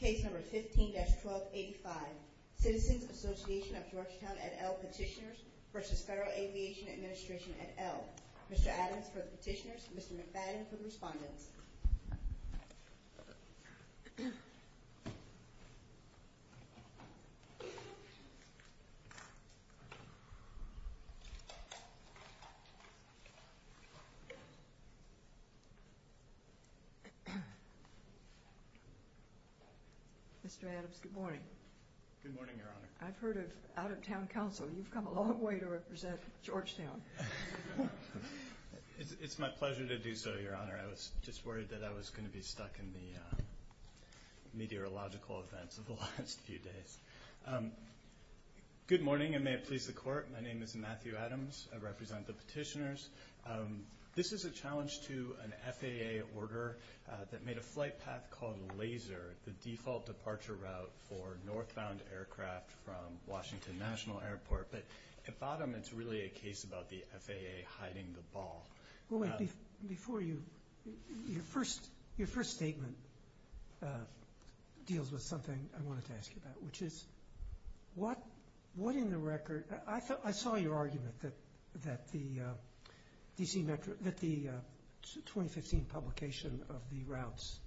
Case number 15-1285, Citizens Association of Georgetown et al. petitioners v. Federal Aviation Administration et al. Mr. Adams for the petitioners, Mr. McFadden for the respondents. Mr. Adams, good morning. Good morning, Your Honor. I've heard of out-of-town counsel. You've come a long way to represent Georgetown. It's my pleasure to do so, Your Honor. I was just worried that I was going to be stuck in the meteorological events of the last few days. Good morning, and may it please the Court. My name is Matthew Adams. I represent the petitioners. This is a challenge to an FAA order that made a flight path called LASER, the default departure route for northbound aircraft from Washington National Airport. But at bottom, it's really a case about the FAA hiding the ball. Before you – your first statement deals with something I wanted to ask you about, which is what in the record – I saw your argument that the 2015 publication of the routes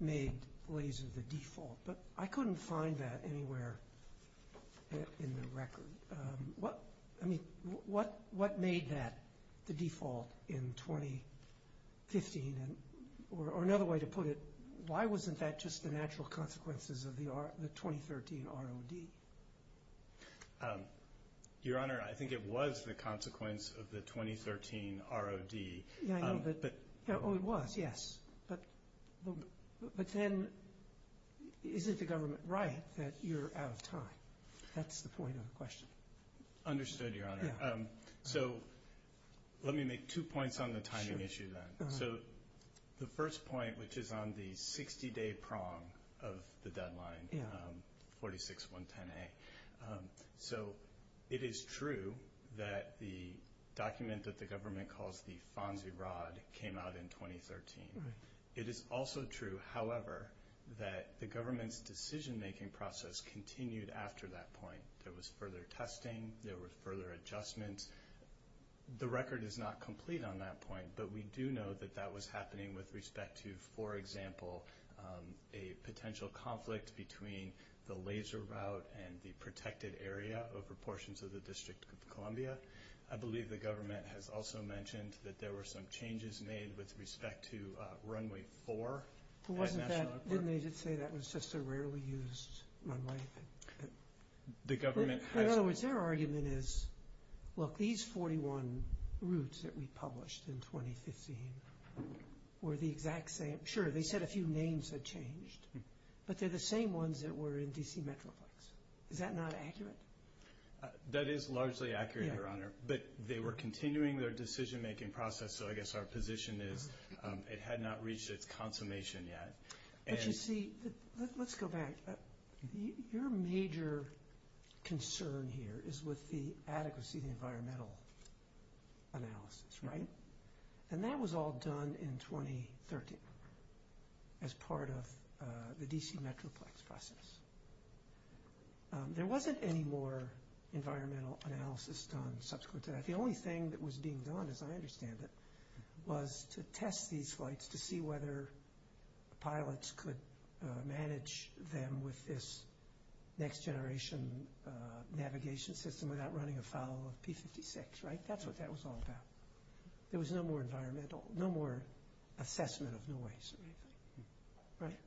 made LASER the default, but I couldn't find that anywhere in the record. What made that the default in 2015? Or another way to put it, why wasn't that just the natural consequences of the 2013 ROD? Your Honor, I think it was the consequence of the 2013 ROD. Oh, it was, yes. But then, is it the government right that you're out of time? That's the point of the question. Understood, Your Honor. So, let me make two points on the timing issue then. So, the first point, which is on the 60-day prong of the deadline, 46-110A. So, it is true that the document that the government calls the FONSI ROD came out in 2013. It is also true, however, that the government's decision-making process continued after that point. There was further testing. There were further adjustments. The record is not complete on that point, but we do know that that was happening with respect to, for example, a potential conflict between the LASER route and the protected area over portions of the District of Columbia. I believe the government has also mentioned that there were some changes made with respect to Runway 4 at National Airport. Didn't they just say that was just a rarely used runway? The government has... In other words, their argument is, look, these 41 routes that we published in 2015 were the exact same. Sure, they said a few names had changed, but they're the same ones that were in D.C. Metroplex. Is that not accurate? That is largely accurate, Your Honor, but they were continuing their decision-making process, so I guess our position is it had not reached its consummation yet. But you see, let's go back. Your major concern here is with the adequacy of the environmental analysis, right? And that was all done in 2013 as part of the D.C. Metroplex process. There wasn't any more environmental analysis done subsequent to that. The only thing that was being done, as I understand it, was to test these flights to see whether pilots could manage them with this next-generation navigation system without running a follow-up P-56, right? That's what that was all about. There was no more environmental, no more assessment of noise, right?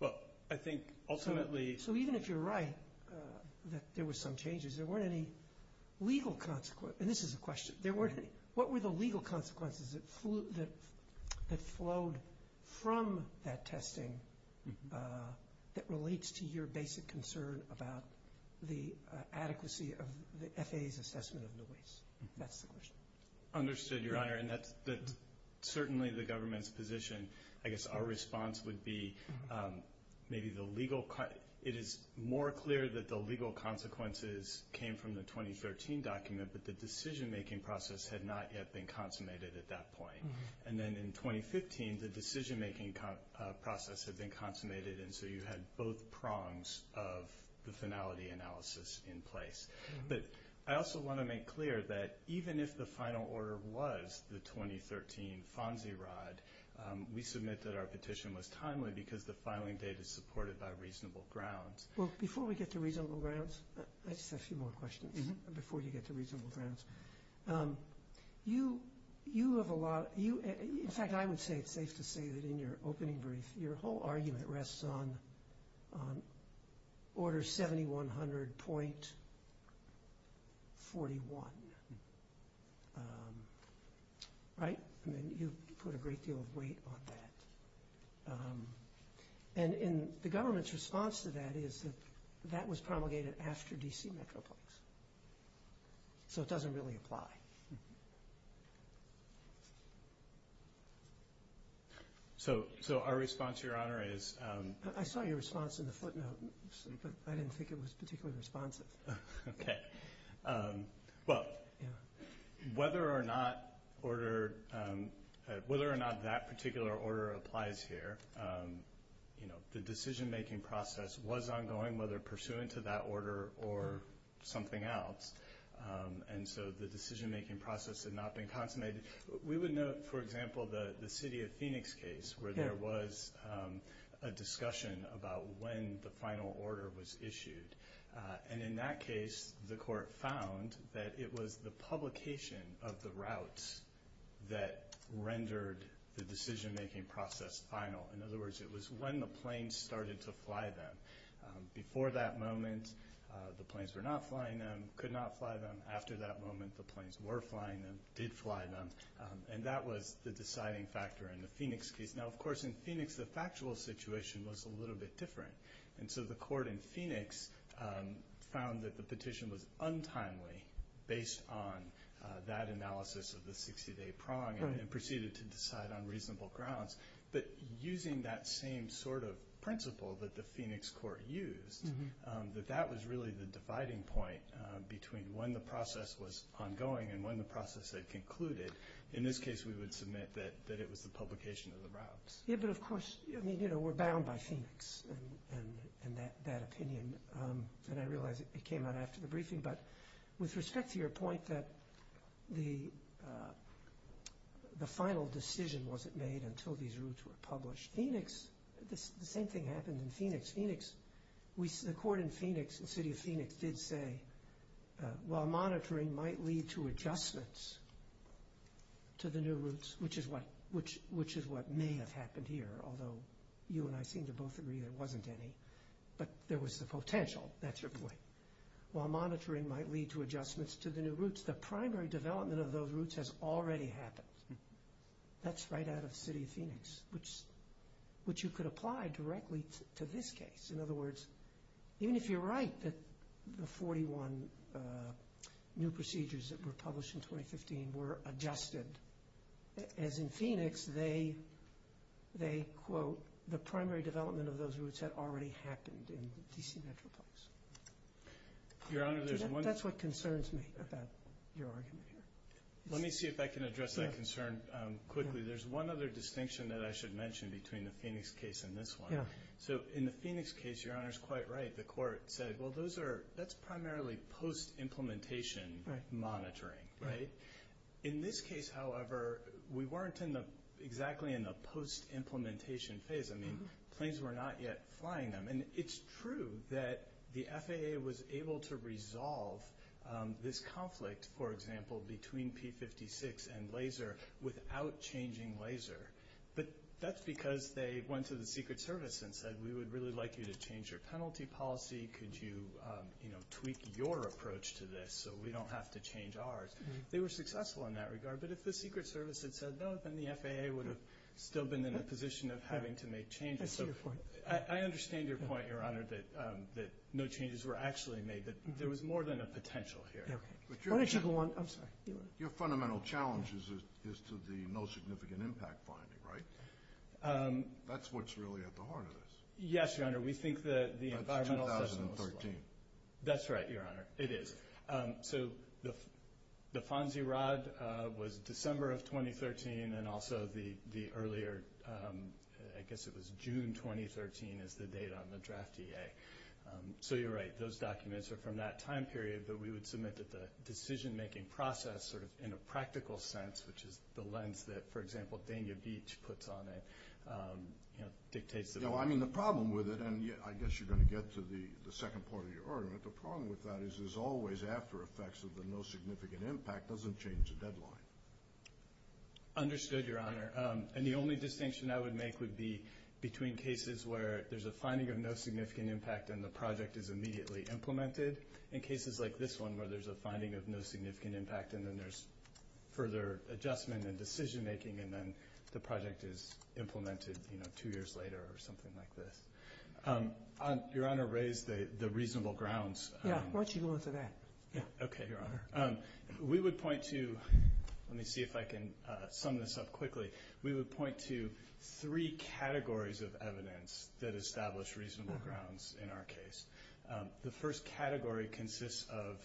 Well, I think ultimately... So even if you're right that there were some changes, there weren't any legal consequences. And this is a question. What were the legal consequences that flowed from that testing that relates to your basic concern about the adequacy of the FAA's assessment of noise? That's the question. Understood, Your Honor. And that's certainly the government's position. I guess our response would be maybe the legal... It is more clear that the legal consequences came from the 2013 document, but the decision-making process had not yet been consummated at that point. And then in 2015, the decision-making process had been consummated, and so you had both prongs of the finality analysis in place. But I also want to make clear that even if the final order was the 2013 FONSI rod, we submit that our petition was timely because the filing date is supported by reasonable grounds. Well, before we get to reasonable grounds, I just have a few more questions before you get to reasonable grounds. In fact, I would say it's safe to say that in your opening brief, your whole argument rests on Order 7100.41, right? I mean, you put a great deal of weight on that. And the government's response to that is that that was promulgated after D.C. Metro Parks, so it doesn't really apply. So our response, Your Honor, is... I saw your response in the footnote, but I didn't think it was particularly responsive. Okay. Well, whether or not that particular order applies here, the decision-making process was ongoing, whether pursuant to that order or something else, and so the decision-making process had not been consummated. We would note, for example, the City of Phoenix case, where there was a discussion about when the final order was issued. And in that case, the court found that it was the publication of the routes that rendered the decision-making process final. In other words, it was when the planes started to fly them. Before that moment, the planes were not flying them, could not fly them. After that moment, the planes were flying them, did fly them, and that was the deciding factor in the Phoenix case. Now, of course, in Phoenix, the factual situation was a little bit different. And so the court in Phoenix found that the petition was untimely based on that analysis of the 60-day prong and proceeded to decide on reasonable grounds. But using that same sort of principle that the Phoenix court used, that that was really the dividing point between when the process was ongoing and when the process had concluded. In this case, we would submit that it was the publication of the routes. Yeah, but of course, I mean, you know, we're bound by Phoenix and that opinion. And I realize it came out after the briefing. But with respect to your point that the final decision wasn't made until these routes were published, Phoenix, the same thing happened in Phoenix. Phoenix, the court in Phoenix, the city of Phoenix, did say, while monitoring might lead to adjustments to the new routes, which is what may have happened here, although you and I seem to both agree there wasn't any, but there was the potential, that's your point, while monitoring might lead to adjustments to the new routes. development of those routes has already happened. That's right out of the city of Phoenix, which you could apply directly to this case. In other words, even if you're right that the 41 new procedures that were published in 2015 were adjusted, as in Phoenix, they quote, the primary development of those routes had already happened in the DC metropolis. Your Honor, there's one... That's what concerns me about your argument. Let me see if I can address that concern quickly. There's one other distinction that I should mention between the Phoenix case and this one. The FAA was able to resolve this conflict, for example, between P-56 and laser without changing laser. But that's because they went to the Secret Service and said, we would really like you to change your penalty policy. Could you tweak your approach to this so we don't have to change ours? They were successful in that regard, but if the Secret Service had said no, then the FAA would have still been in a position of having to make changes. I understand your point, Your Honor, that no changes were actually made, but there was more than a potential here. Why don't you go on? I'm sorry. Your fundamental challenge is to the no significant impact finding, right? That's what's really at the heart of this. Yes, Your Honor, we think that the environmental... That's 2013. That's right, Your Honor, it is. So the FONSI rod was December of 2013, and also the earlier, I guess it was June 2013, is the date on the draft EA. So you're right, those documents are from that time period, but we would submit that the decision-making process, sort of in a practical sense, which is the lens that, for example, Dania Beach puts on it, dictates... I mean, the problem with it, and I guess you're going to get to the second part of your argument, the problem with that is there's always after effects of the no significant impact doesn't change the deadline. Understood, Your Honor, and the only distinction I would make would be between cases where there's a finding of no significant impact and the project is immediately implemented, and cases like this one where there's a finding of no significant impact and then there's further adjustment and decision-making and then the project is implemented, you know, two years later or something like this. Your Honor raised the reasonable grounds. Yeah, why don't you go into that? Okay, Your Honor. We would point to... Let me see if I can sum this up quickly. We would point to three categories of evidence that establish reasonable grounds in our case. The first category consists of,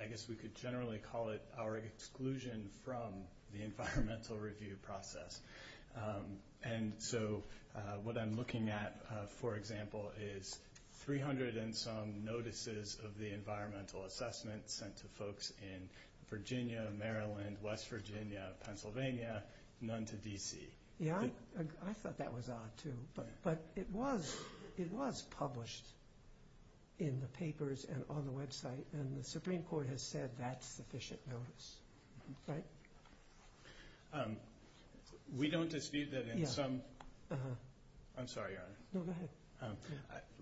I guess we could generally call it our exclusion from the environmental review process, and so what I'm looking at, for example, is 300 and some notices of the environmental assessment sent to folks in Virginia, Maryland, West Virginia, Pennsylvania, none to D.C. Yeah, I thought that was odd, too, but it was published in the papers and on the website, and the Supreme Court has said that's sufficient notice, right? We don't dispute that in some... Yeah, uh-huh. I'm sorry, Your Honor. No, go ahead.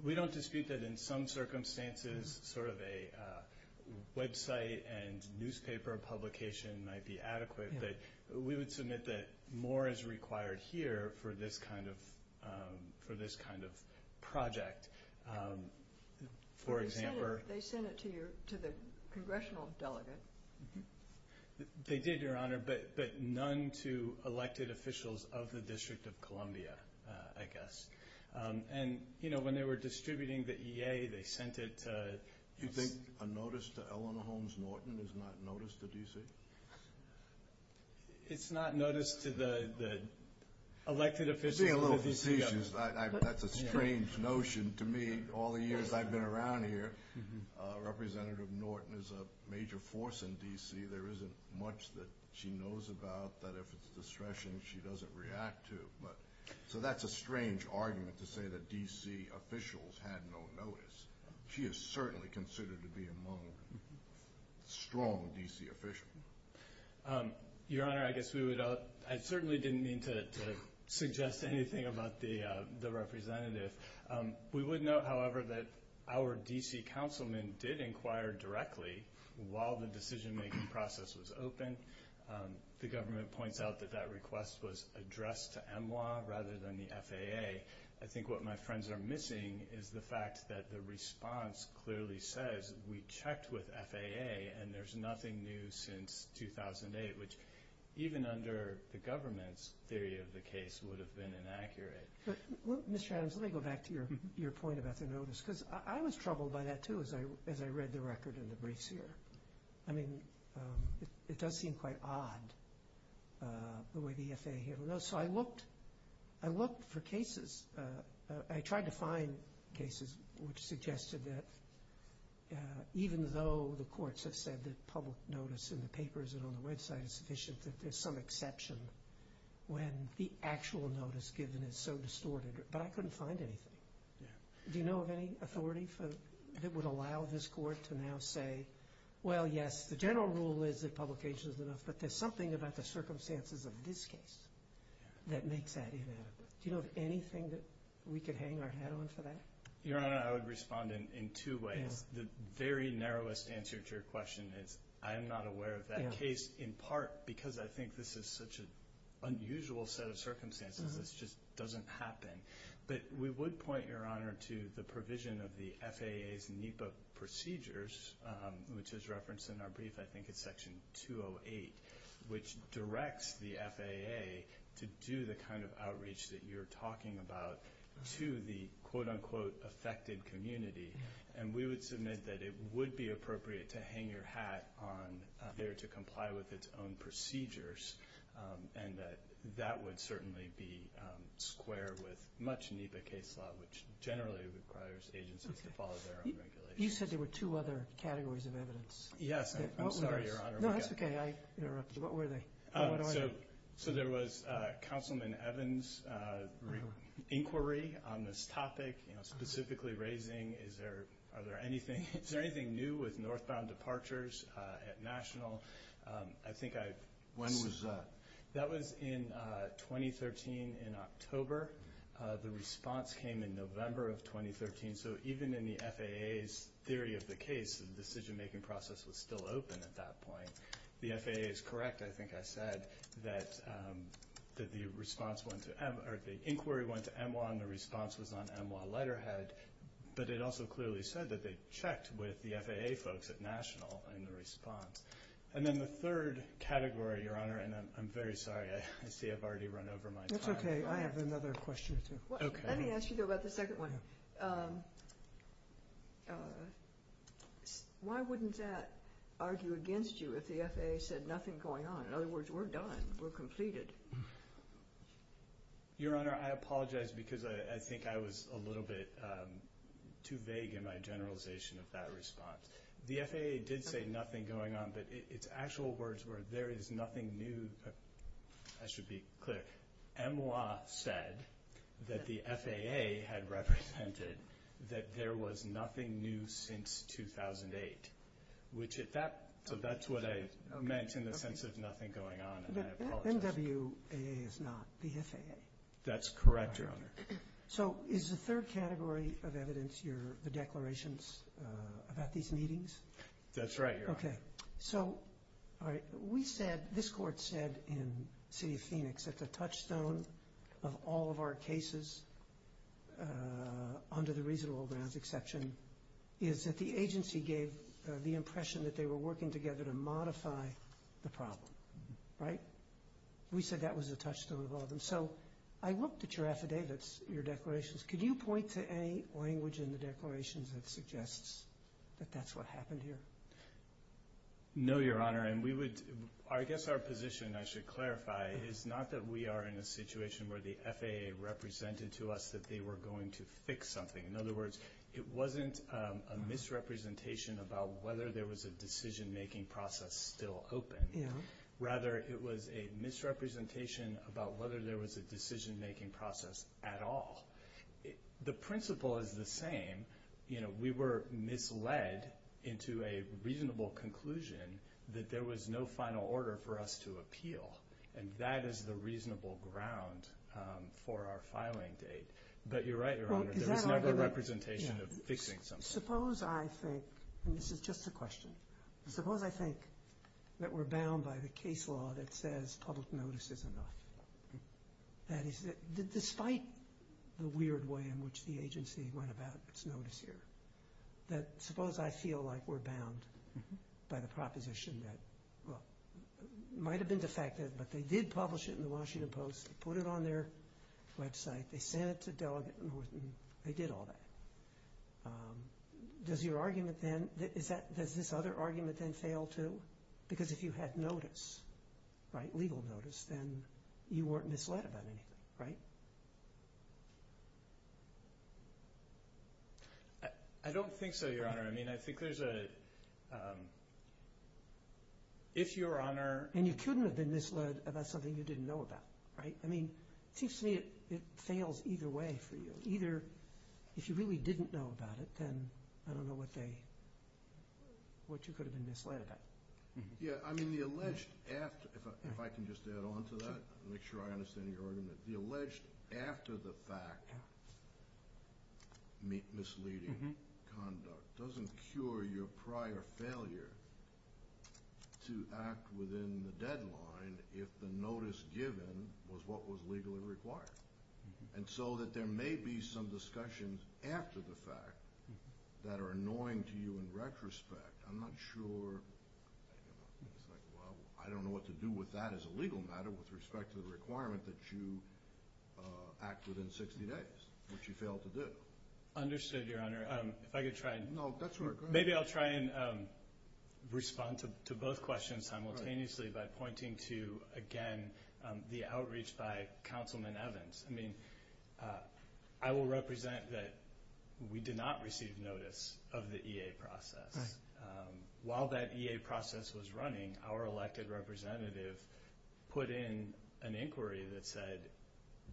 We don't dispute that in some circumstances sort of a website and newspaper publication might be adequate, but we would submit that more is required here for this kind of project. For example... They sent it to the congressional delegate. They did, Your Honor, but none to elected officials of the District of Columbia, I guess, and when they were distributing the EA, they sent it to... You think a notice to Eleanor Holmes Norton is not notice to D.C.? It's not notice to the elected officials of the D.C. That's a strange notion to me. All the years I've been around here, Representative Norton is a major force in D.C. There isn't much that she knows about that if it's distressing, she doesn't react to. So that's a strange argument to say that D.C. officials had no notice. She is certainly considered to be among strong D.C. officials. Your Honor, I guess we would... I certainly didn't mean to suggest anything about the representative. We would note, however, that our D.C. councilman did inquire directly while the decision-making process was open. The government points out that that request was addressed to MWA rather than the FAA. I think what my friends are missing is the fact that the response clearly says, we checked with FAA and there's nothing new since 2008, which even under the government's theory of the case would have been inaccurate. Mr. Adams, let me go back to your point about the notice, because I was troubled by that too as I read the record in the briefs here. I mean, it does seem quite odd the way the FAA handled those. So I looked for cases. I tried to find cases which suggested that even though the courts have said that public notice in the papers and on the website is sufficient, that there's some exception when the actual notice given is so distorted. But I couldn't find anything. Do you know of any authority that would allow this court to now say, well, yes, the general rule is that publication is enough, but there's something about the circumstances of this case that makes that inadequate. Do you know of anything that we could hang our head on for that? Your Honor, I would respond in two ways. The very narrowest answer to your question is I am not aware of that case, in part because I think this is such an unusual set of circumstances. This just doesn't happen. But we would point, Your Honor, to the provision of the FAA's NEPA procedures, which is referenced in our brief, I think it's Section 208, which directs the FAA to do the kind of outreach that you're talking about to the quote-unquote affected community. And we would submit that it would be appropriate to hang your hat on there to comply with its own procedures and that that would certainly be square with much NEPA case law, which generally requires agencies to follow their own regulations. You said there were two other categories of evidence. Yes. I'm sorry, Your Honor. No, that's okay. I interrupted you. What were they? So there was Councilman Evans' inquiry on this topic, specifically raising, is there anything new with northbound departures at National? When was that? That was in 2013, in October. The response came in November of 2013. So even in the FAA's theory of the case, the decision-making process was still open at that point. The FAA is correct, I think I said, that the inquiry went to EMWA and the response was on EMWA letterhead, but it also clearly said that they checked with the FAA folks at National in the response. And then the third category, Your Honor, and I'm very sorry, I see I've already run over my time. That's okay. I have another question or two. Let me ask you about the second one. Why wouldn't that argue against you if the FAA said nothing going on? In other words, we're done. We're completed. Your Honor, I apologize because I think I was a little bit too vague in my generalization of that response. The FAA did say nothing going on, but its actual words were, there is nothing new. I should be clear. EMWA said that the FAA had represented that there was nothing new since 2008. So that's what I meant in the sense of nothing going on, and I apologize. EMWA is not the FAA. That's correct, Your Honor. So is the third category of evidence the declarations about these meetings? That's right, Your Honor. Okay. So we said, this Court said in the City of Phoenix, that the touchstone of all of our cases under the reasonable grounds exception is that the agency gave the impression that they were working together to modify the problem. Right? We said that was the touchstone of all of them. So I looked at your affidavits, your declarations. Could you point to any language in the declarations that suggests that that's what happened here? No, Your Honor. And I guess our position, I should clarify, is not that we are in a situation where the FAA represented to us that they were going to fix something. In other words, it wasn't a misrepresentation about whether there was a decision-making process still open. Rather, it was a misrepresentation about whether there was a decision-making process at all. The principle is the same. We were misled into a reasonable conclusion that there was no final order for us to appeal. And that is the reasonable ground for our filing date. But you're right, Your Honor. It's not a representation of fixing something. Suppose I think, and this is just a question, suppose I think that we're bound by the case law that says public notice is enough. That is, despite the weird way in which the agency went about its notice here, that suppose I feel like we're bound by the proposition that, well, it might have been defective, but they did publish it in the Washington Post. They put it on their website. They sent it to Delegate Norton. They did all that. Does your argument then, does this other argument then fail too? Because if you had notice, legal notice, then you weren't misled about anything, right? I don't think so, Your Honor. I mean, I think there's a, if Your Honor— And you couldn't have been misled about something you didn't know about, right? I mean, it seems to me it fails either way for you. Either if you really didn't know about it, then I don't know what they, what you could have been misled about. Yeah, I mean the alleged after, if I can just add on to that, make sure I understand your argument. The alleged after the fact misleading conduct doesn't cure your prior failure to act within the deadline if the notice given was what was legally required. And so that there may be some discussions after the fact that are annoying to you in retrospect. I'm not sure, it's like, well, I don't know what to do with that as a legal matter with respect to the requirement that you act within 60 days, which you failed to do. Understood, Your Honor. If I could try and— No, that's all right, go ahead. Maybe I'll try and respond to both questions simultaneously by pointing to, again, the outreach by Councilman Evans. I mean, I will represent that we did not receive notice of the EA process. While that EA process was running, our elected representative put in an inquiry that said,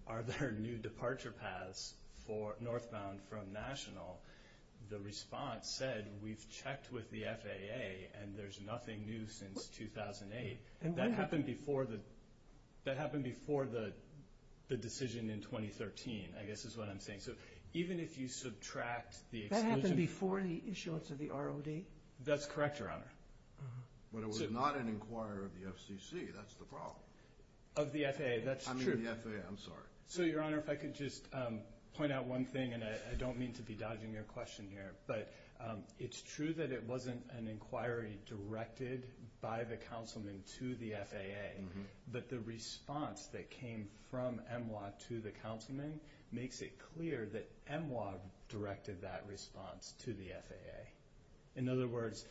are there new departure paths northbound from national? The response said, we've checked with the FAA and there's nothing new since 2008. That happened before the decision in 2013, I guess is what I'm saying. So even if you subtract the exclusion— That happened before the issuance of the ROD? That's correct, Your Honor. But it was not an inquiry of the FCC, that's the problem. Of the FAA, that's true. I mean the FAA, I'm sorry. So, Your Honor, if I could just point out one thing, and I don't mean to be dodging your question here, but it's true that it wasn't an inquiry directed by the Councilman to the FAA, but the response that came from MWA to the Councilman makes it clear that MWA directed that response to the FAA. In other words,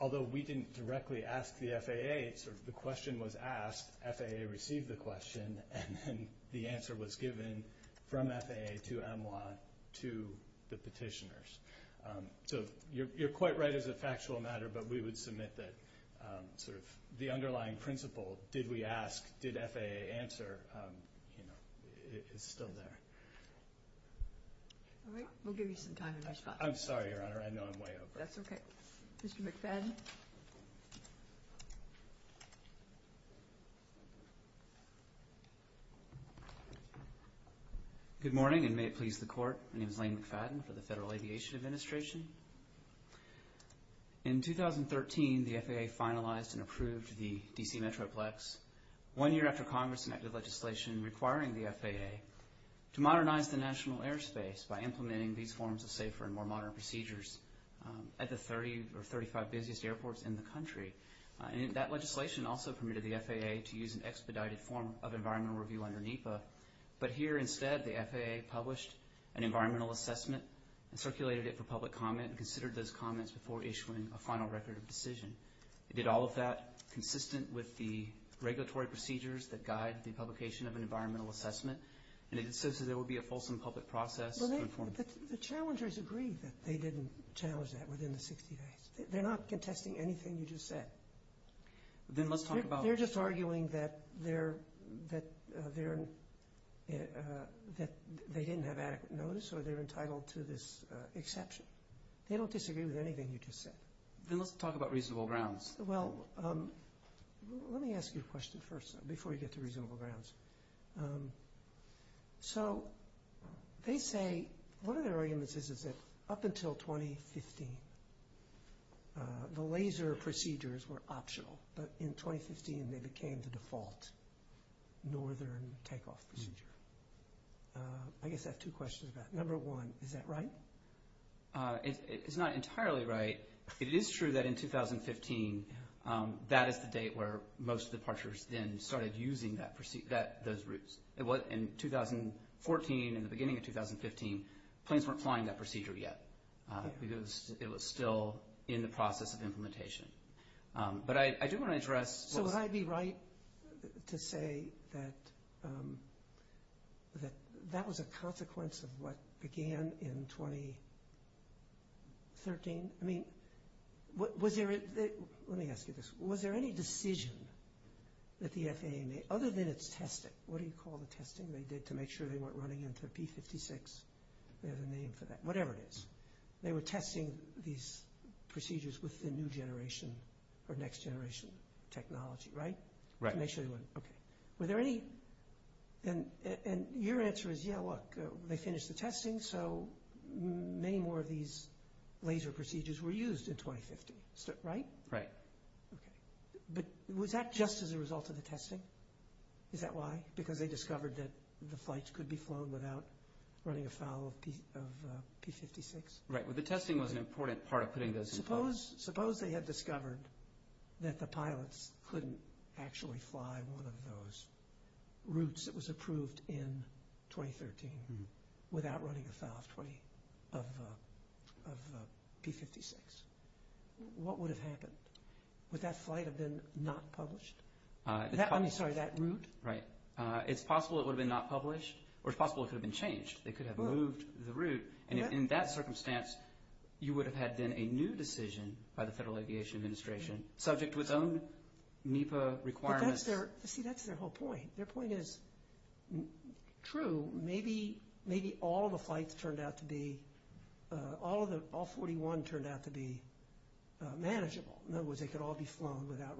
although we didn't directly ask the FAA, the question was asked, FAA received the question, and the answer was given from FAA to MWA to the petitioners. So you're quite right as a factual matter, but we would submit that sort of the underlying principle, did we ask, did FAA answer, is still there. All right, we'll give you some time to respond. I'm sorry, Your Honor, I know I'm way over. That's okay. Mr. McFadden. Good morning, and may it please the Court. My name is Lane McFadden for the Federal Aviation Administration. In 2013, the FAA finalized and approved the D.C. Metroplex, one year after Congress enacted legislation requiring the FAA to modernize the national airspace by implementing these forms of safer and more modern procedures at the 30 or 35 busiest airports in the country. And that legislation also permitted the FAA to use an expedited form of environmental review under NEPA, but here instead the FAA published an environmental assessment and circulated it for public comment and considered those comments before issuing a final record of decision. It did all of that consistent with the regulatory procedures that guide the publication of an environmental assessment, and it insisted there would be a fulsome public process. The challengers agree that they didn't challenge that within the 60 days. They're not contesting anything you just said. They're just arguing that they didn't have adequate notice or they're entitled to this exception. They don't disagree with anything you just said. Then let's talk about reasonable grounds. Well, let me ask you a question first, before you get to reasonable grounds. So they say one of their arguments is that up until 2015, the laser procedures were optional, but in 2015 they became the default northern takeoff procedure. I guess I have two questions about that. Number one, is that right? It's not entirely right. It is true that in 2015 that is the date where most departures then started using those routes. In 2014, in the beginning of 2015, planes weren't flying that procedure yet because it was still in the process of implementation. But I do want to address what was – So would I be right to say that that was a consequence of what began in 2013? Let me ask you this. Was there any decision that the FAA made, other than its testing? What do you call the testing they did to make sure they weren't running into a P-56? They have a name for that. Whatever it is. They were testing these procedures with the new generation or next generation technology, right? Right. Okay. And your answer is, yeah, look, they finished the testing, so many more of these laser procedures were used in 2015, right? Right. Okay. But was that just as a result of the testing? Is that why? Because they discovered that the flights could be flown without running afoul of P-56? Right. Well, the testing was an important part of putting those in place. Suppose they had discovered that the pilots couldn't actually fly one of those routes that was approved in 2013 without running afoul of P-56. What would have happened? Would that flight have been not published? I'm sorry, that route? Right. It's possible it would have been not published, or it's possible it could have been changed. They could have moved the route, and in that circumstance, you would have had then a new decision by the Federal Aviation Administration, subject to its own NEPA requirements. See, that's their whole point. Their point is true. Maybe all the flights turned out to be, all 41 turned out to be manageable. In other words, they could all be flown without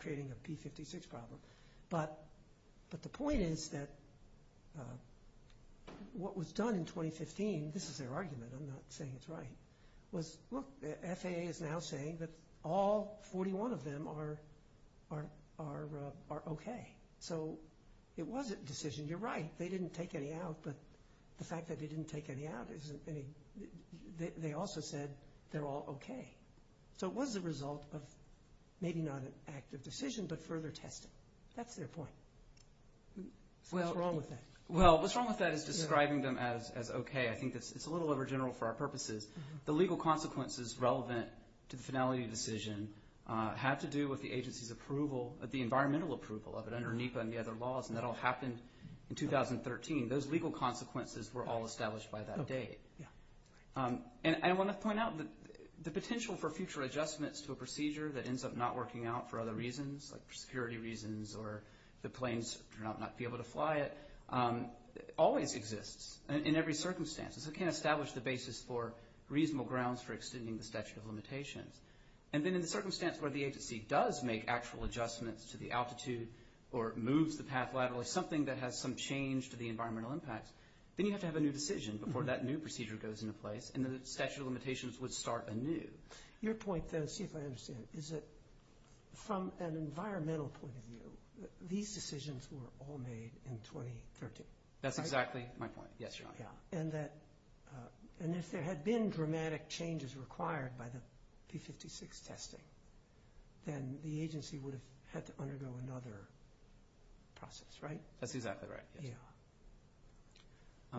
creating a P-56 problem. But the point is that what was done in 2015, this is their argument, I'm not saying it's right, FAA is now saying that all 41 of them are okay. So it was a decision, you're right, they didn't take any out, but the fact that they didn't take any out, they also said they're all okay. So it was a result of maybe not an active decision, but further testing. That's their point. So what's wrong with that? Well, what's wrong with that is describing them as okay. I think it's a little overgeneral for our purposes. The legal consequences relevant to the finality decision had to do with the agency's approval, the environmental approval of it under NEPA and the other laws, and that all happened in 2013. Those legal consequences were all established by that date. And I want to point out the potential for future adjustments to a procedure that ends up not working out for other reasons, like security reasons or the planes turn out not to be able to fly it, always exists in every circumstance. So it can't establish the basis for reasonable grounds for extending the statute of limitations. And then in the circumstance where the agency does make actual adjustments to the altitude or moves the path laterally, something that has some change to the environmental impacts, then you have to have a new decision before that new procedure goes into place, and the statute of limitations would start anew. Your point, though, see if I understand it, is that from an environmental point of view, these decisions were all made in 2013, right? That's exactly my point. Yes, Your Honor. And if there had been dramatic changes required by the P-56 testing, then the agency would have had to undergo another process, right? That's exactly right.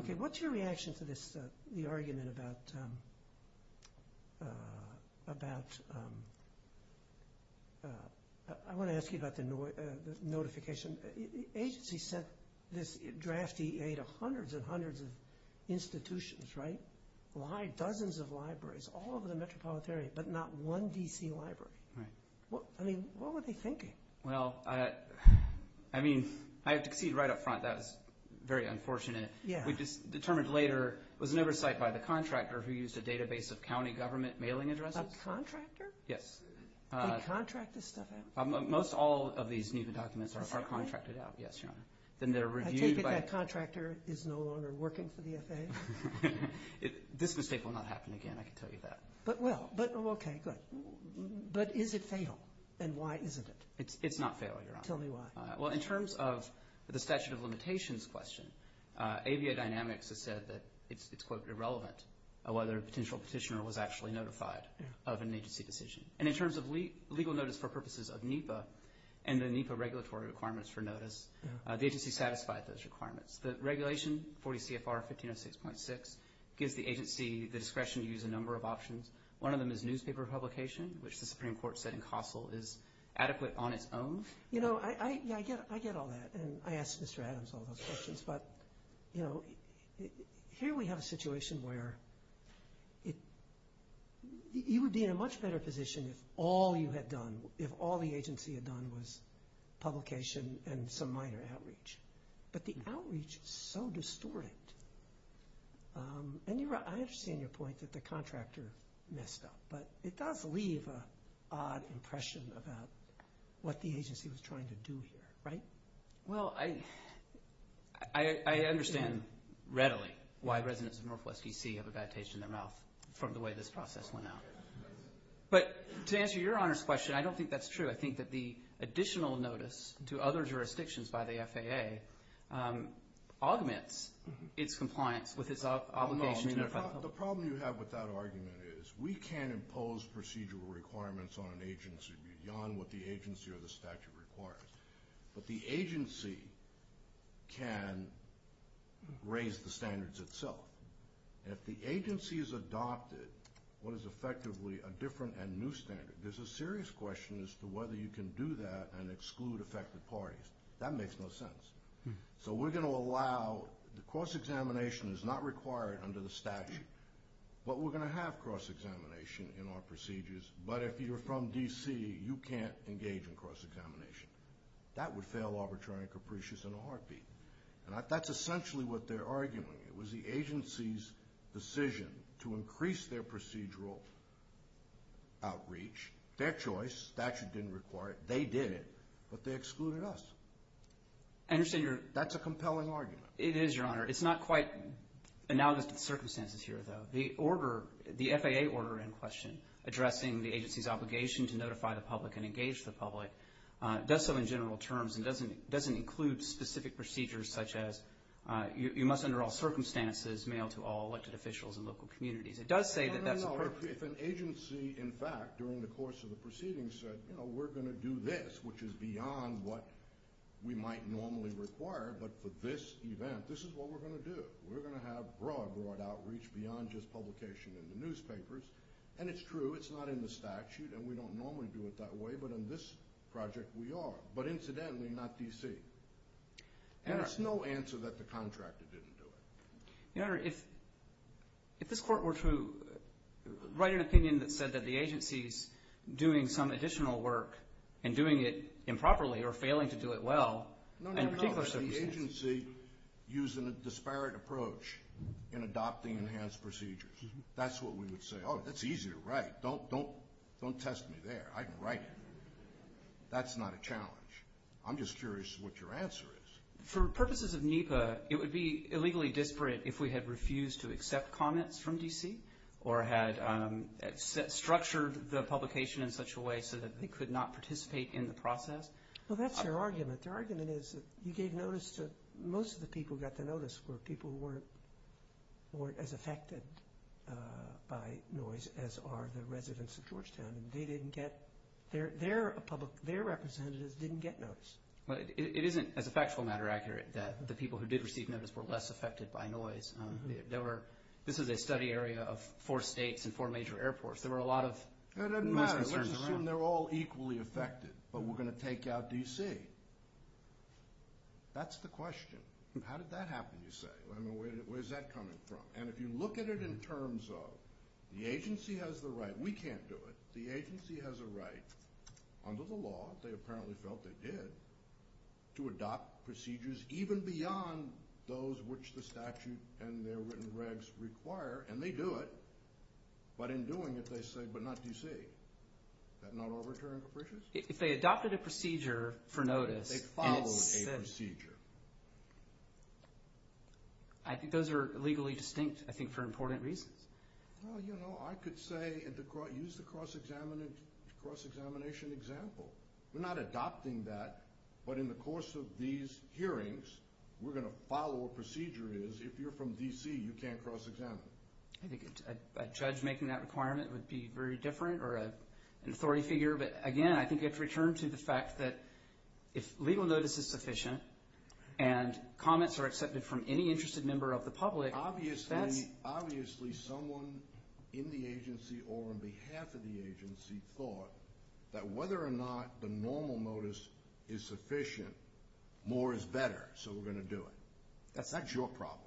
Okay, what's your reaction to the argument about—I want to ask you about the notification. The agency sent this draft EA to hundreds and hundreds of institutions, right? Why dozens of libraries all over the metropolitan area but not one D.C. library? I mean, what were they thinking? Well, I mean, I have to concede right up front that was very unfortunate. We determined later it was an oversight by the contractor who used a database of county government mailing addresses. A contractor? Yes. They contract this stuff out? Most all of these NEPA documents are contracted out, yes, Your Honor. Then they're reviewed by— I take it that contractor is no longer working for the FAA? This mistake will not happen again, I can tell you that. Okay, good. But is it fatal, and why isn't it? It's not fatal, Your Honor. Tell me why. Well, in terms of the statute of limitations question, AVIA Dynamics has said that it's, quote, irrelevant whether a potential petitioner was actually notified of an agency decision. And in terms of legal notice for purposes of NEPA and the NEPA regulatory requirements for notice, the agency satisfied those requirements. The regulation, 40 CFR 1506.6, gives the agency the discretion to use a number of options. One of them is newspaper publication, which the Supreme Court said in Kossil is adequate on its own. You know, I get all that, and I ask Mr. Adams all those questions. But, you know, here we have a situation where you would be in a much better position if all you had done, if all the agency had done was publication and some minor outreach. But the outreach is so distorted. And you're right. I understand your point that the contractor messed up. But it does leave an odd impression about what the agency was trying to do here, right? Well, I understand readily why residents of Northwest DC have a bad taste in their mouth from the way this process went out. But to answer your Honor's question, I don't think that's true. I think that the additional notice to other jurisdictions by the FAA augments its compliance with its obligation. The problem you have with that argument is we can't impose procedural requirements on an agency beyond what the agency or the statute requires. But the agency can raise the standards itself. If the agency has adopted what is effectively a different and new standard, there's a serious question as to whether you can do that and exclude affected parties. That makes no sense. So we're going to allow cross-examination is not required under the statute. But we're going to have cross-examination in our procedures. But if you're from DC, you can't engage in cross-examination. That would fail arbitrary and capricious in a heartbeat. And that's essentially what they're arguing. It was the agency's decision to increase their procedural outreach, their choice. The statute didn't require it. They did it, but they excluded us. That's a compelling argument. It is, Your Honor. It's not quite analogous to the circumstances here, though. The order, the FAA order in question, addressing the agency's obligation to notify the public and engage the public, does so in general terms and doesn't include specific procedures such as you must, under all circumstances, mail to all elected officials in local communities. It does say that that's appropriate. No, no, no. If an agency, in fact, during the course of the proceedings said, you know, we're going to do this, which is beyond what we might normally require. But for this event, this is what we're going to do. We're going to have broad, broad outreach beyond just publication in the newspapers. And it's true. It's not in the statute. And we don't normally do it that way. But in this project, we are. But incidentally, not D.C. And it's no answer that the contractor didn't do it. Your Honor, if this court were to write an opinion that said that the agency's doing some additional work and doing it improperly or failing to do it well in particular circumstances. No, no, no. The agency using a disparate approach in adopting enhanced procedures. That's what we would say. Oh, that's easy to write. Don't test me there. I can write it. That's not a challenge. I'm just curious what your answer is. For purposes of NEPA, it would be illegally disparate if we had refused to accept comments from D.C. or had structured the publication in such a way so that they could not participate in the process. Well, that's their argument. Their argument is that you gave notice to most of the people who got the notice Their representatives didn't get notice. It isn't, as a factual matter, accurate that the people who did receive notice were less affected by noise. This is a study area of four states and four major airports. There were a lot of noise concerns around. It doesn't matter. Let's assume they're all equally affected, but we're going to take out D.C. That's the question. How did that happen, you say? Where's that coming from? And if you look at it in terms of the agency has the right. We can't do it. The agency has a right under the law, they apparently felt they did, to adopt procedures even beyond those which the statute and their written regs require, and they do it. But in doing it, they say, but not D.C. Is that not overturning capricious? If they adopted a procedure for notice. They followed a procedure. I think those are legally distinct, I think, for important reasons. Well, you know, I could say and use the cross-examination example. We're not adopting that, but in the course of these hearings, we're going to follow what procedure is. If you're from D.C., you can't cross-examine. I think a judge making that requirement would be very different or an authority figure. But, again, I think you have to return to the fact that if legal notice is sufficient and comments are accepted from any interested member of the public. Obviously, someone in the agency or on behalf of the agency thought that whether or not the normal notice is sufficient, more is better, so we're going to do it. That's your problem.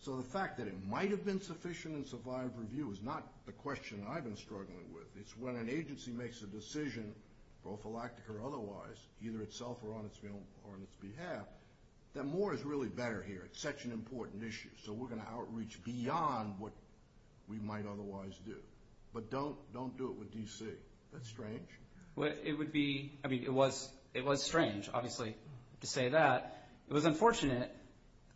So the fact that it might have been sufficient in survivor review is not the question I've been struggling with. It's when an agency makes a decision, prophylactic or otherwise, either itself or on its behalf, that more is really better here. It's such an important issue, so we're going to outreach beyond what we might otherwise do. But don't do it with D.C. That's strange. It would be, I mean, it was strange, obviously, to say that. It was unfortunate,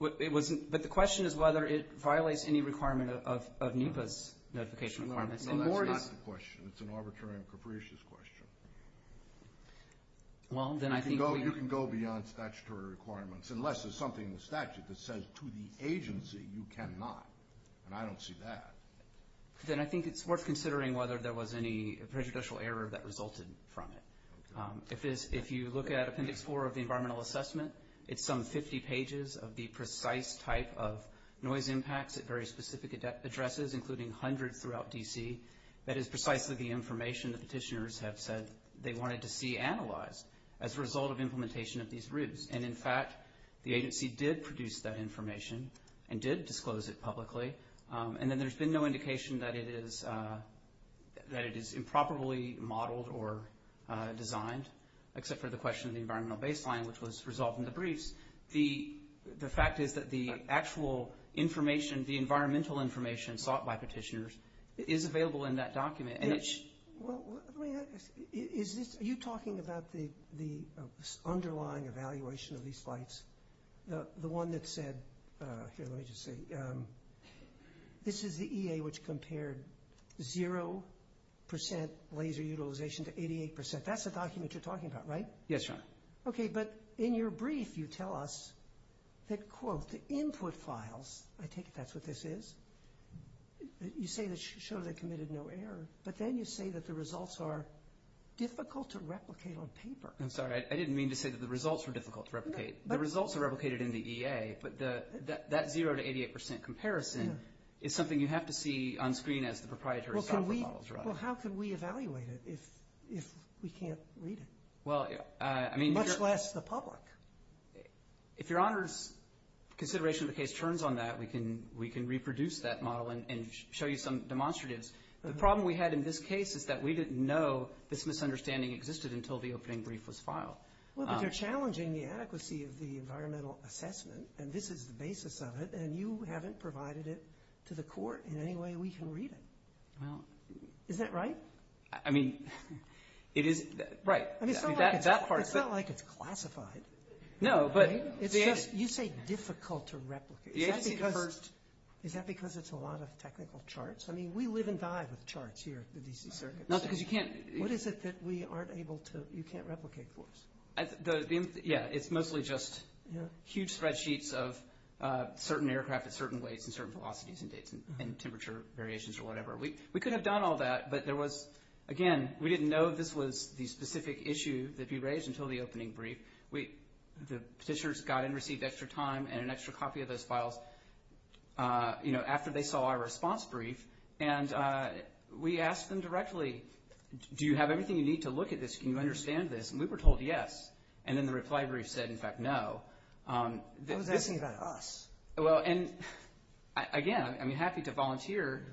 but the question is whether it violates any requirement of NEPA's notification requirements. No, that's not the question. It's an arbitrary and capricious question. You can go beyond statutory requirements unless there's something in the statute that says to the agency you cannot, and I don't see that. Then I think it's worth considering whether there was any prejudicial error that resulted from it. If you look at Appendix 4 of the Environmental Assessment, it's some 50 pages of the precise type of noise impacts at very specific addresses, including hundreds throughout D.C. That is precisely the information the petitioners have said they wanted to see analyzed as a result of implementation of these routes. And, in fact, the agency did produce that information and did disclose it publicly. And then there's been no indication that it is improperly modeled or designed, except for the question of the environmental baseline, which was resolved in the briefs. The fact is that the actual information, the environmental information sought by petitioners, is available in that document. Are you talking about the underlying evaluation of these flights? The one that said, here, let me just say, this is the EA which compared 0% laser utilization to 88%. That's the document you're talking about, right? Yes, Your Honor. Okay, but in your brief, you tell us that, quote, the input files, I take it that's what this is? You say that shows it committed no error, but then you say that the results are difficult to replicate on paper. I'm sorry. I didn't mean to say that the results were difficult to replicate. The results are replicated in the EA, but that 0% to 88% comparison is something you have to see on screen as the proprietary software models, right? Well, how can we evaluate it if we can't read it, much less the public? If Your Honor's consideration of the case turns on that, we can reproduce that model and show you some demonstratives. The problem we had in this case is that we didn't know this misunderstanding existed until the opening brief was filed. Well, but you're challenging the adequacy of the environmental assessment, and this is the basis of it, and you haven't provided it to the court in any way we can read it. Well, isn't that right? I mean, it is right. I mean, it's not like it's classified. No, but it's just – You say difficult to replicate. Is that because it's a lot of technical charts? I mean, we live and die with charts here at the D.C. Circuit. Not because you can't – What is it that we aren't able to – you can't replicate for us? Yeah, it's mostly just huge spreadsheets of certain aircraft at certain weights and certain velocities and dates and temperature variations or whatever. We could have done all that, but there was – again, we didn't know this was the specific issue that we raised until the opening brief. The petitioners got and received extra time and an extra copy of those files, you know, after they saw our response brief, and we asked them directly, do you have everything you need to look at this? Can you understand this? And we were told yes, and then the reply brief said, in fact, no. I was asking about us. Well, and again, I'm happy to volunteer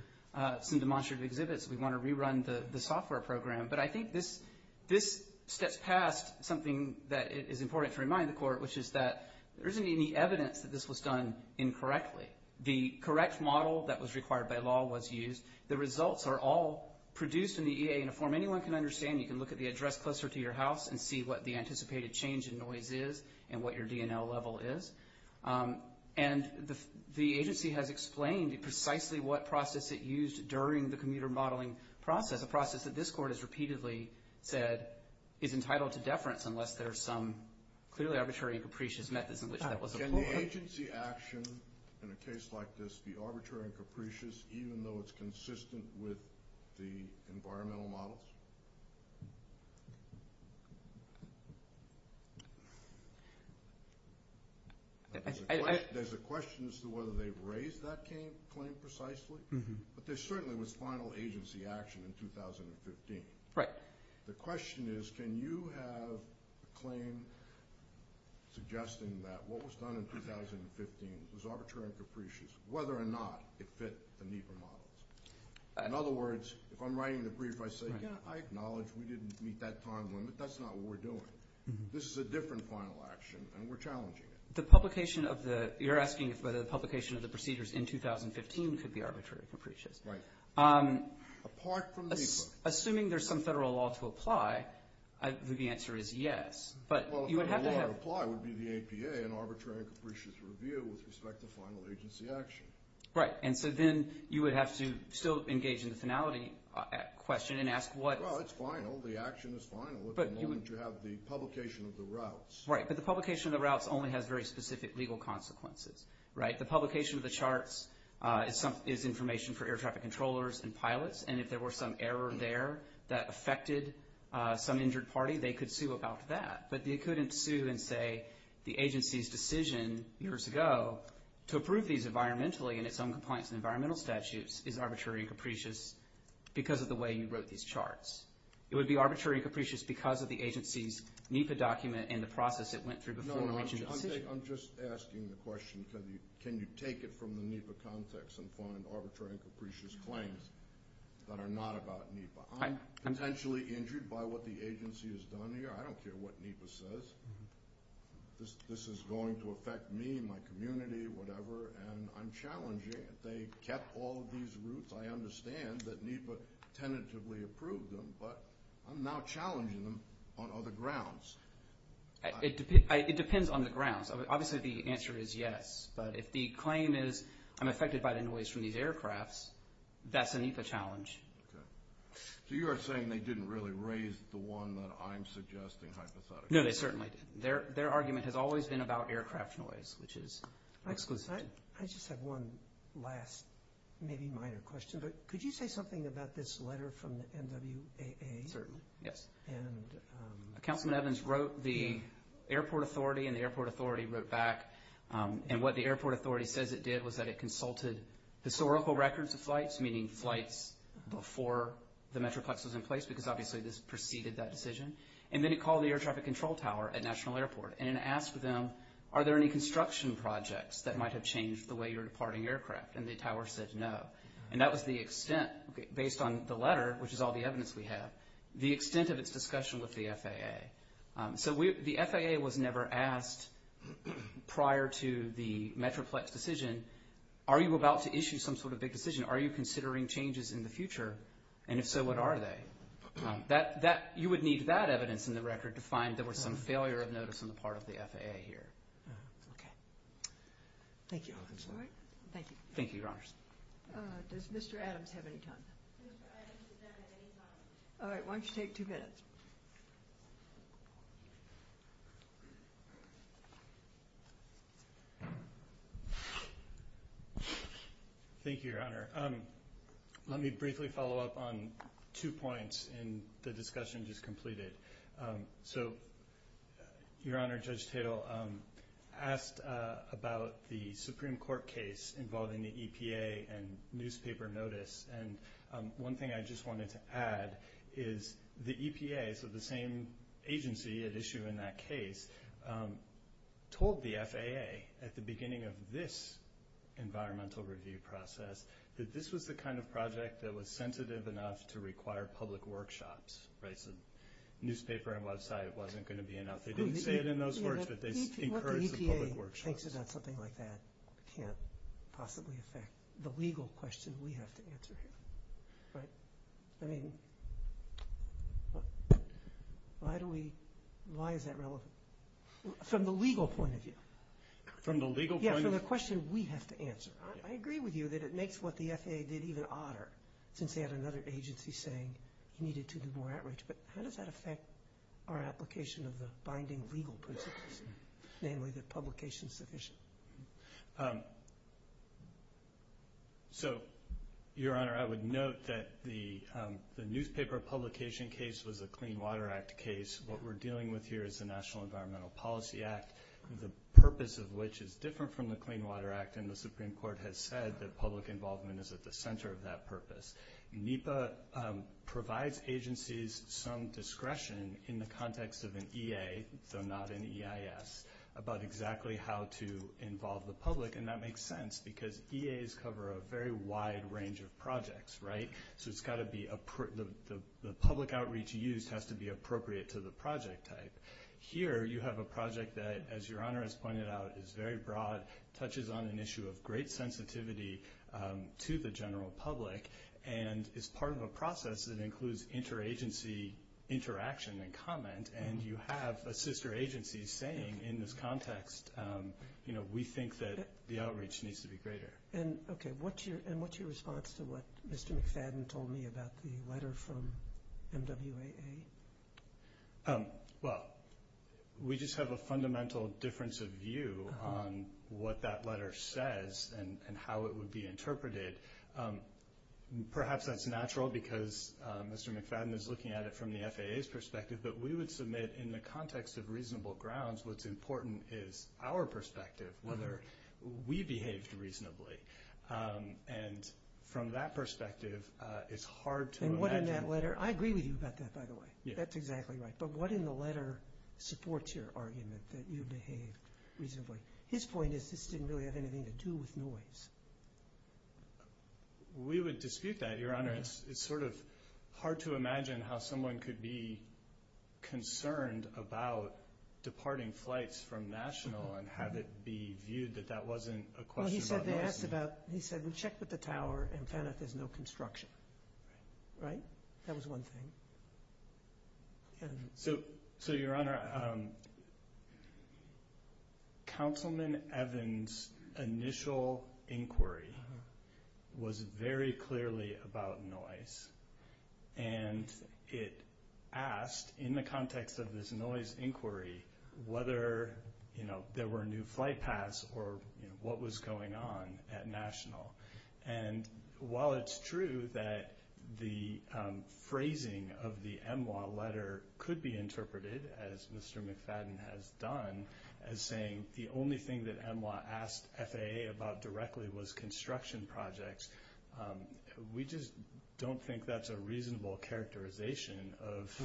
some demonstrative exhibits if we want to rerun the software program, but I think this steps past something that is important to remind the Court, which is that there isn't any evidence that this was done incorrectly. The correct model that was required by law was used. The results are all produced in the EA in a form anyone can understand. You can look at the address closer to your house and see what the anticipated change in noise is and what your DNL level is. And the agency has explained precisely what process it used during the commuter modeling process, a process that this Court has repeatedly said is entitled to deference unless there are some clearly arbitrary and capricious methods in which that was employed. Can the agency action in a case like this be arbitrary and capricious, even though it's consistent with the environmental models? There's a question as to whether they've raised that claim precisely, but there certainly was final agency action in 2015. The question is, can you have a claim suggesting that what was done in 2015 was arbitrary and capricious, whether or not it fit the NEPA models? In other words, if I'm writing the brief, I say, I acknowledge we didn't meet that time limit. That's not what we're doing. This is a different final action, and we're challenging it. You're asking whether the publication of the procedures in 2015 could be arbitrary and capricious. Right. Apart from NEPA. Assuming there's some federal law to apply, the answer is yes. Well, the federal law to apply would be the APA, an arbitrary and capricious review with respect to final agency action. Right. And so then you would have to still engage in the finality question and ask what? Well, it's final. The action is final at the moment you have the publication of the routes. Right, but the publication of the routes only has very specific legal consequences. Right. The publication of the charts is information for air traffic controllers and pilots, and if there were some error there that affected some injured party, they could sue about that. But they couldn't sue and say the agency's decision years ago to approve these environmentally in its own compliance and environmental statutes is arbitrary and capricious because of the way you wrote these charts. It would be arbitrary and capricious because of the agency's NEPA document and the process it went through before the decision. I'm just asking the question, can you take it from the NEPA context and find arbitrary and capricious claims that are not about NEPA? I'm potentially injured by what the agency has done here. I don't care what NEPA says. This is going to affect me, my community, whatever, and I'm challenging. If they kept all of these routes, I understand that NEPA tentatively approved them, but I'm now challenging them on other grounds. It depends on the grounds. Obviously, the answer is yes. But if the claim is I'm affected by the noise from these aircrafts, that's a NEPA challenge. Okay. So you are saying they didn't really raise the one that I'm suggesting hypothetically? No, they certainly didn't. Their argument has always been about aircraft noise, which is exclusive. I just have one last maybe minor question. Could you say something about this letter from the NWAA? Certainly, yes. Councilman Evans wrote the airport authority, and the airport authority wrote back. And what the airport authority says it did was that it consulted historical records of flights, meaning flights before the Metroplex was in place, because obviously this preceded that decision. And then it called the air traffic control tower at National Airport and asked them, are there any construction projects that might have changed the way you're departing aircraft? And the tower said no. And that was the extent, based on the letter, which is all the evidence we have, the extent of its discussion with the FAA. So the FAA was never asked prior to the Metroplex decision, are you about to issue some sort of big decision? Are you considering changes in the future? And if so, what are they? You would need that evidence in the record to find there was some failure of notice on the part of the FAA here. Okay. Thank you. Thank you. Thank you, Your Honors. Does Mr. Adams have any time? All right. Why don't you take two minutes. Thank you, Your Honor. Let me briefly follow up on two points in the discussion just completed. So, Your Honor, Judge Tatel asked about the Supreme Court case involving the EPA and newspaper notice. And one thing I just wanted to add is the EPA, so the same agency at issue in that case, told the FAA at the beginning of this environmental review process that this was the kind of project that was sensitive enough to require public workshops, right? So newspaper and website wasn't going to be enough. They didn't say it in those words, but they encouraged the public workshops. I think that something like that can't possibly affect the legal question we have to answer here. Right? I mean, why is that relevant from the legal point of view? From the legal point of view? Yeah, from the question we have to answer. I agree with you that it makes what the FAA did even odder since they had another agency saying you needed to do more outreach. But how does that affect our application of the binding legal principles, namely that publication is sufficient? So, Your Honor, I would note that the newspaper publication case was a Clean Water Act case. What we're dealing with here is the National Environmental Policy Act, the purpose of which is different from the Clean Water Act, and the Supreme Court has said that public involvement is at the center of that purpose. NEPA provides agencies some discretion in the context of an EA, though not an EIS, about exactly how to involve the public, and that makes sense because EAs cover a very wide range of projects, right? So the public outreach used has to be appropriate to the project type. Here you have a project that, as Your Honor has pointed out, is very broad, touches on an issue of great sensitivity to the general public, and is part of a process that includes interagency interaction and comment, and you have a sister agency saying in this context, you know, we think that the outreach needs to be greater. Okay, and what's your response to what Mr. McFadden told me about the letter from MWAA? Well, we just have a fundamental difference of view on what that letter says and how it would be interpreted. Perhaps that's natural because Mr. McFadden is looking at it from the FAA's perspective, but we would submit in the context of reasonable grounds, what's important is our perspective, whether we behaved reasonably, and from that perspective, it's hard to imagine. I agree with you about that, by the way. That's exactly right. But what in the letter supports your argument that you behaved reasonably? His point is this didn't really have anything to do with noise. We would dispute that, Your Honor. It's sort of hard to imagine how someone could be concerned about departing flights from national and have it be viewed that that wasn't a question about noise. He said we checked with the tower and found out there's no construction, right? That was one thing. So, Your Honor, Councilman Evans' initial inquiry was very clearly about noise, and it asked, in the context of this noise inquiry, whether there were new flight paths or what was going on at national. And while it's true that the phrasing of the MWA letter could be interpreted, as Mr. McFadden has done, as saying the only thing that MWA asked FAA about directly was construction projects, we just don't think that's a reasonable characterization of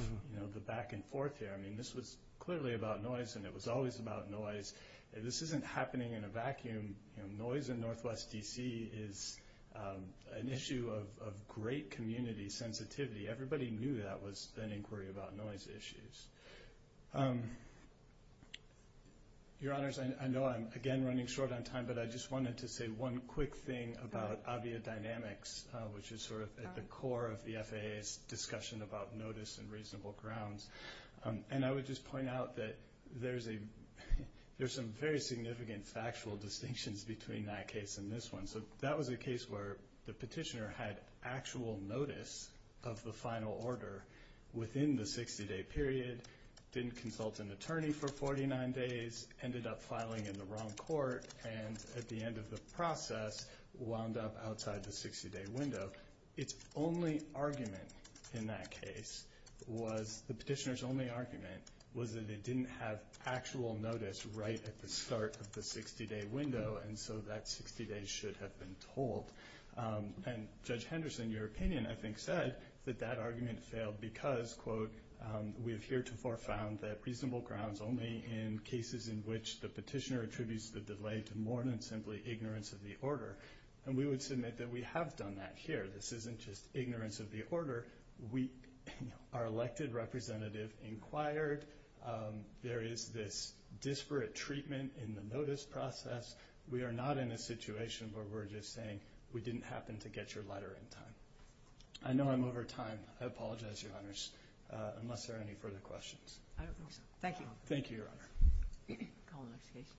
the back and forth here. I mean, this was clearly about noise, and it was always about noise. This isn't happening in a vacuum. Noise in Northwest D.C. is an issue of great community sensitivity. Everybody knew that was an inquiry about noise issues. Your Honors, I know I'm, again, running short on time, but I just wanted to say one quick thing about Avia Dynamics, which is sort of at the core of the FAA's discussion about notice and reasonable grounds. And I would just point out that there's some very significant factual distinctions between that case and this one. So that was a case where the petitioner had actual notice of the final order within the 60-day period, didn't consult an attorney for 49 days, ended up filing in the wrong court, and at the end of the process, wound up outside the 60-day window. Its only argument in that case was, the petitioner's only argument, was that it didn't have actual notice right at the start of the 60-day window, and so that 60 days should have been told. And Judge Henderson, in your opinion, I think, said that that argument failed because, quote, we have heretofore found that reasonable grounds only in cases in which the petitioner attributes the delay to more than simply ignorance of the order. And we would submit that we have done that here. This isn't just ignorance of the order. Our elected representative inquired. There is this disparate treatment in the notice process. We are not in a situation where we're just saying, we didn't happen to get your letter in time. I know I'm over time. I apologize, Your Honors, unless there are any further questions. Thank you. Thank you, Your Honor.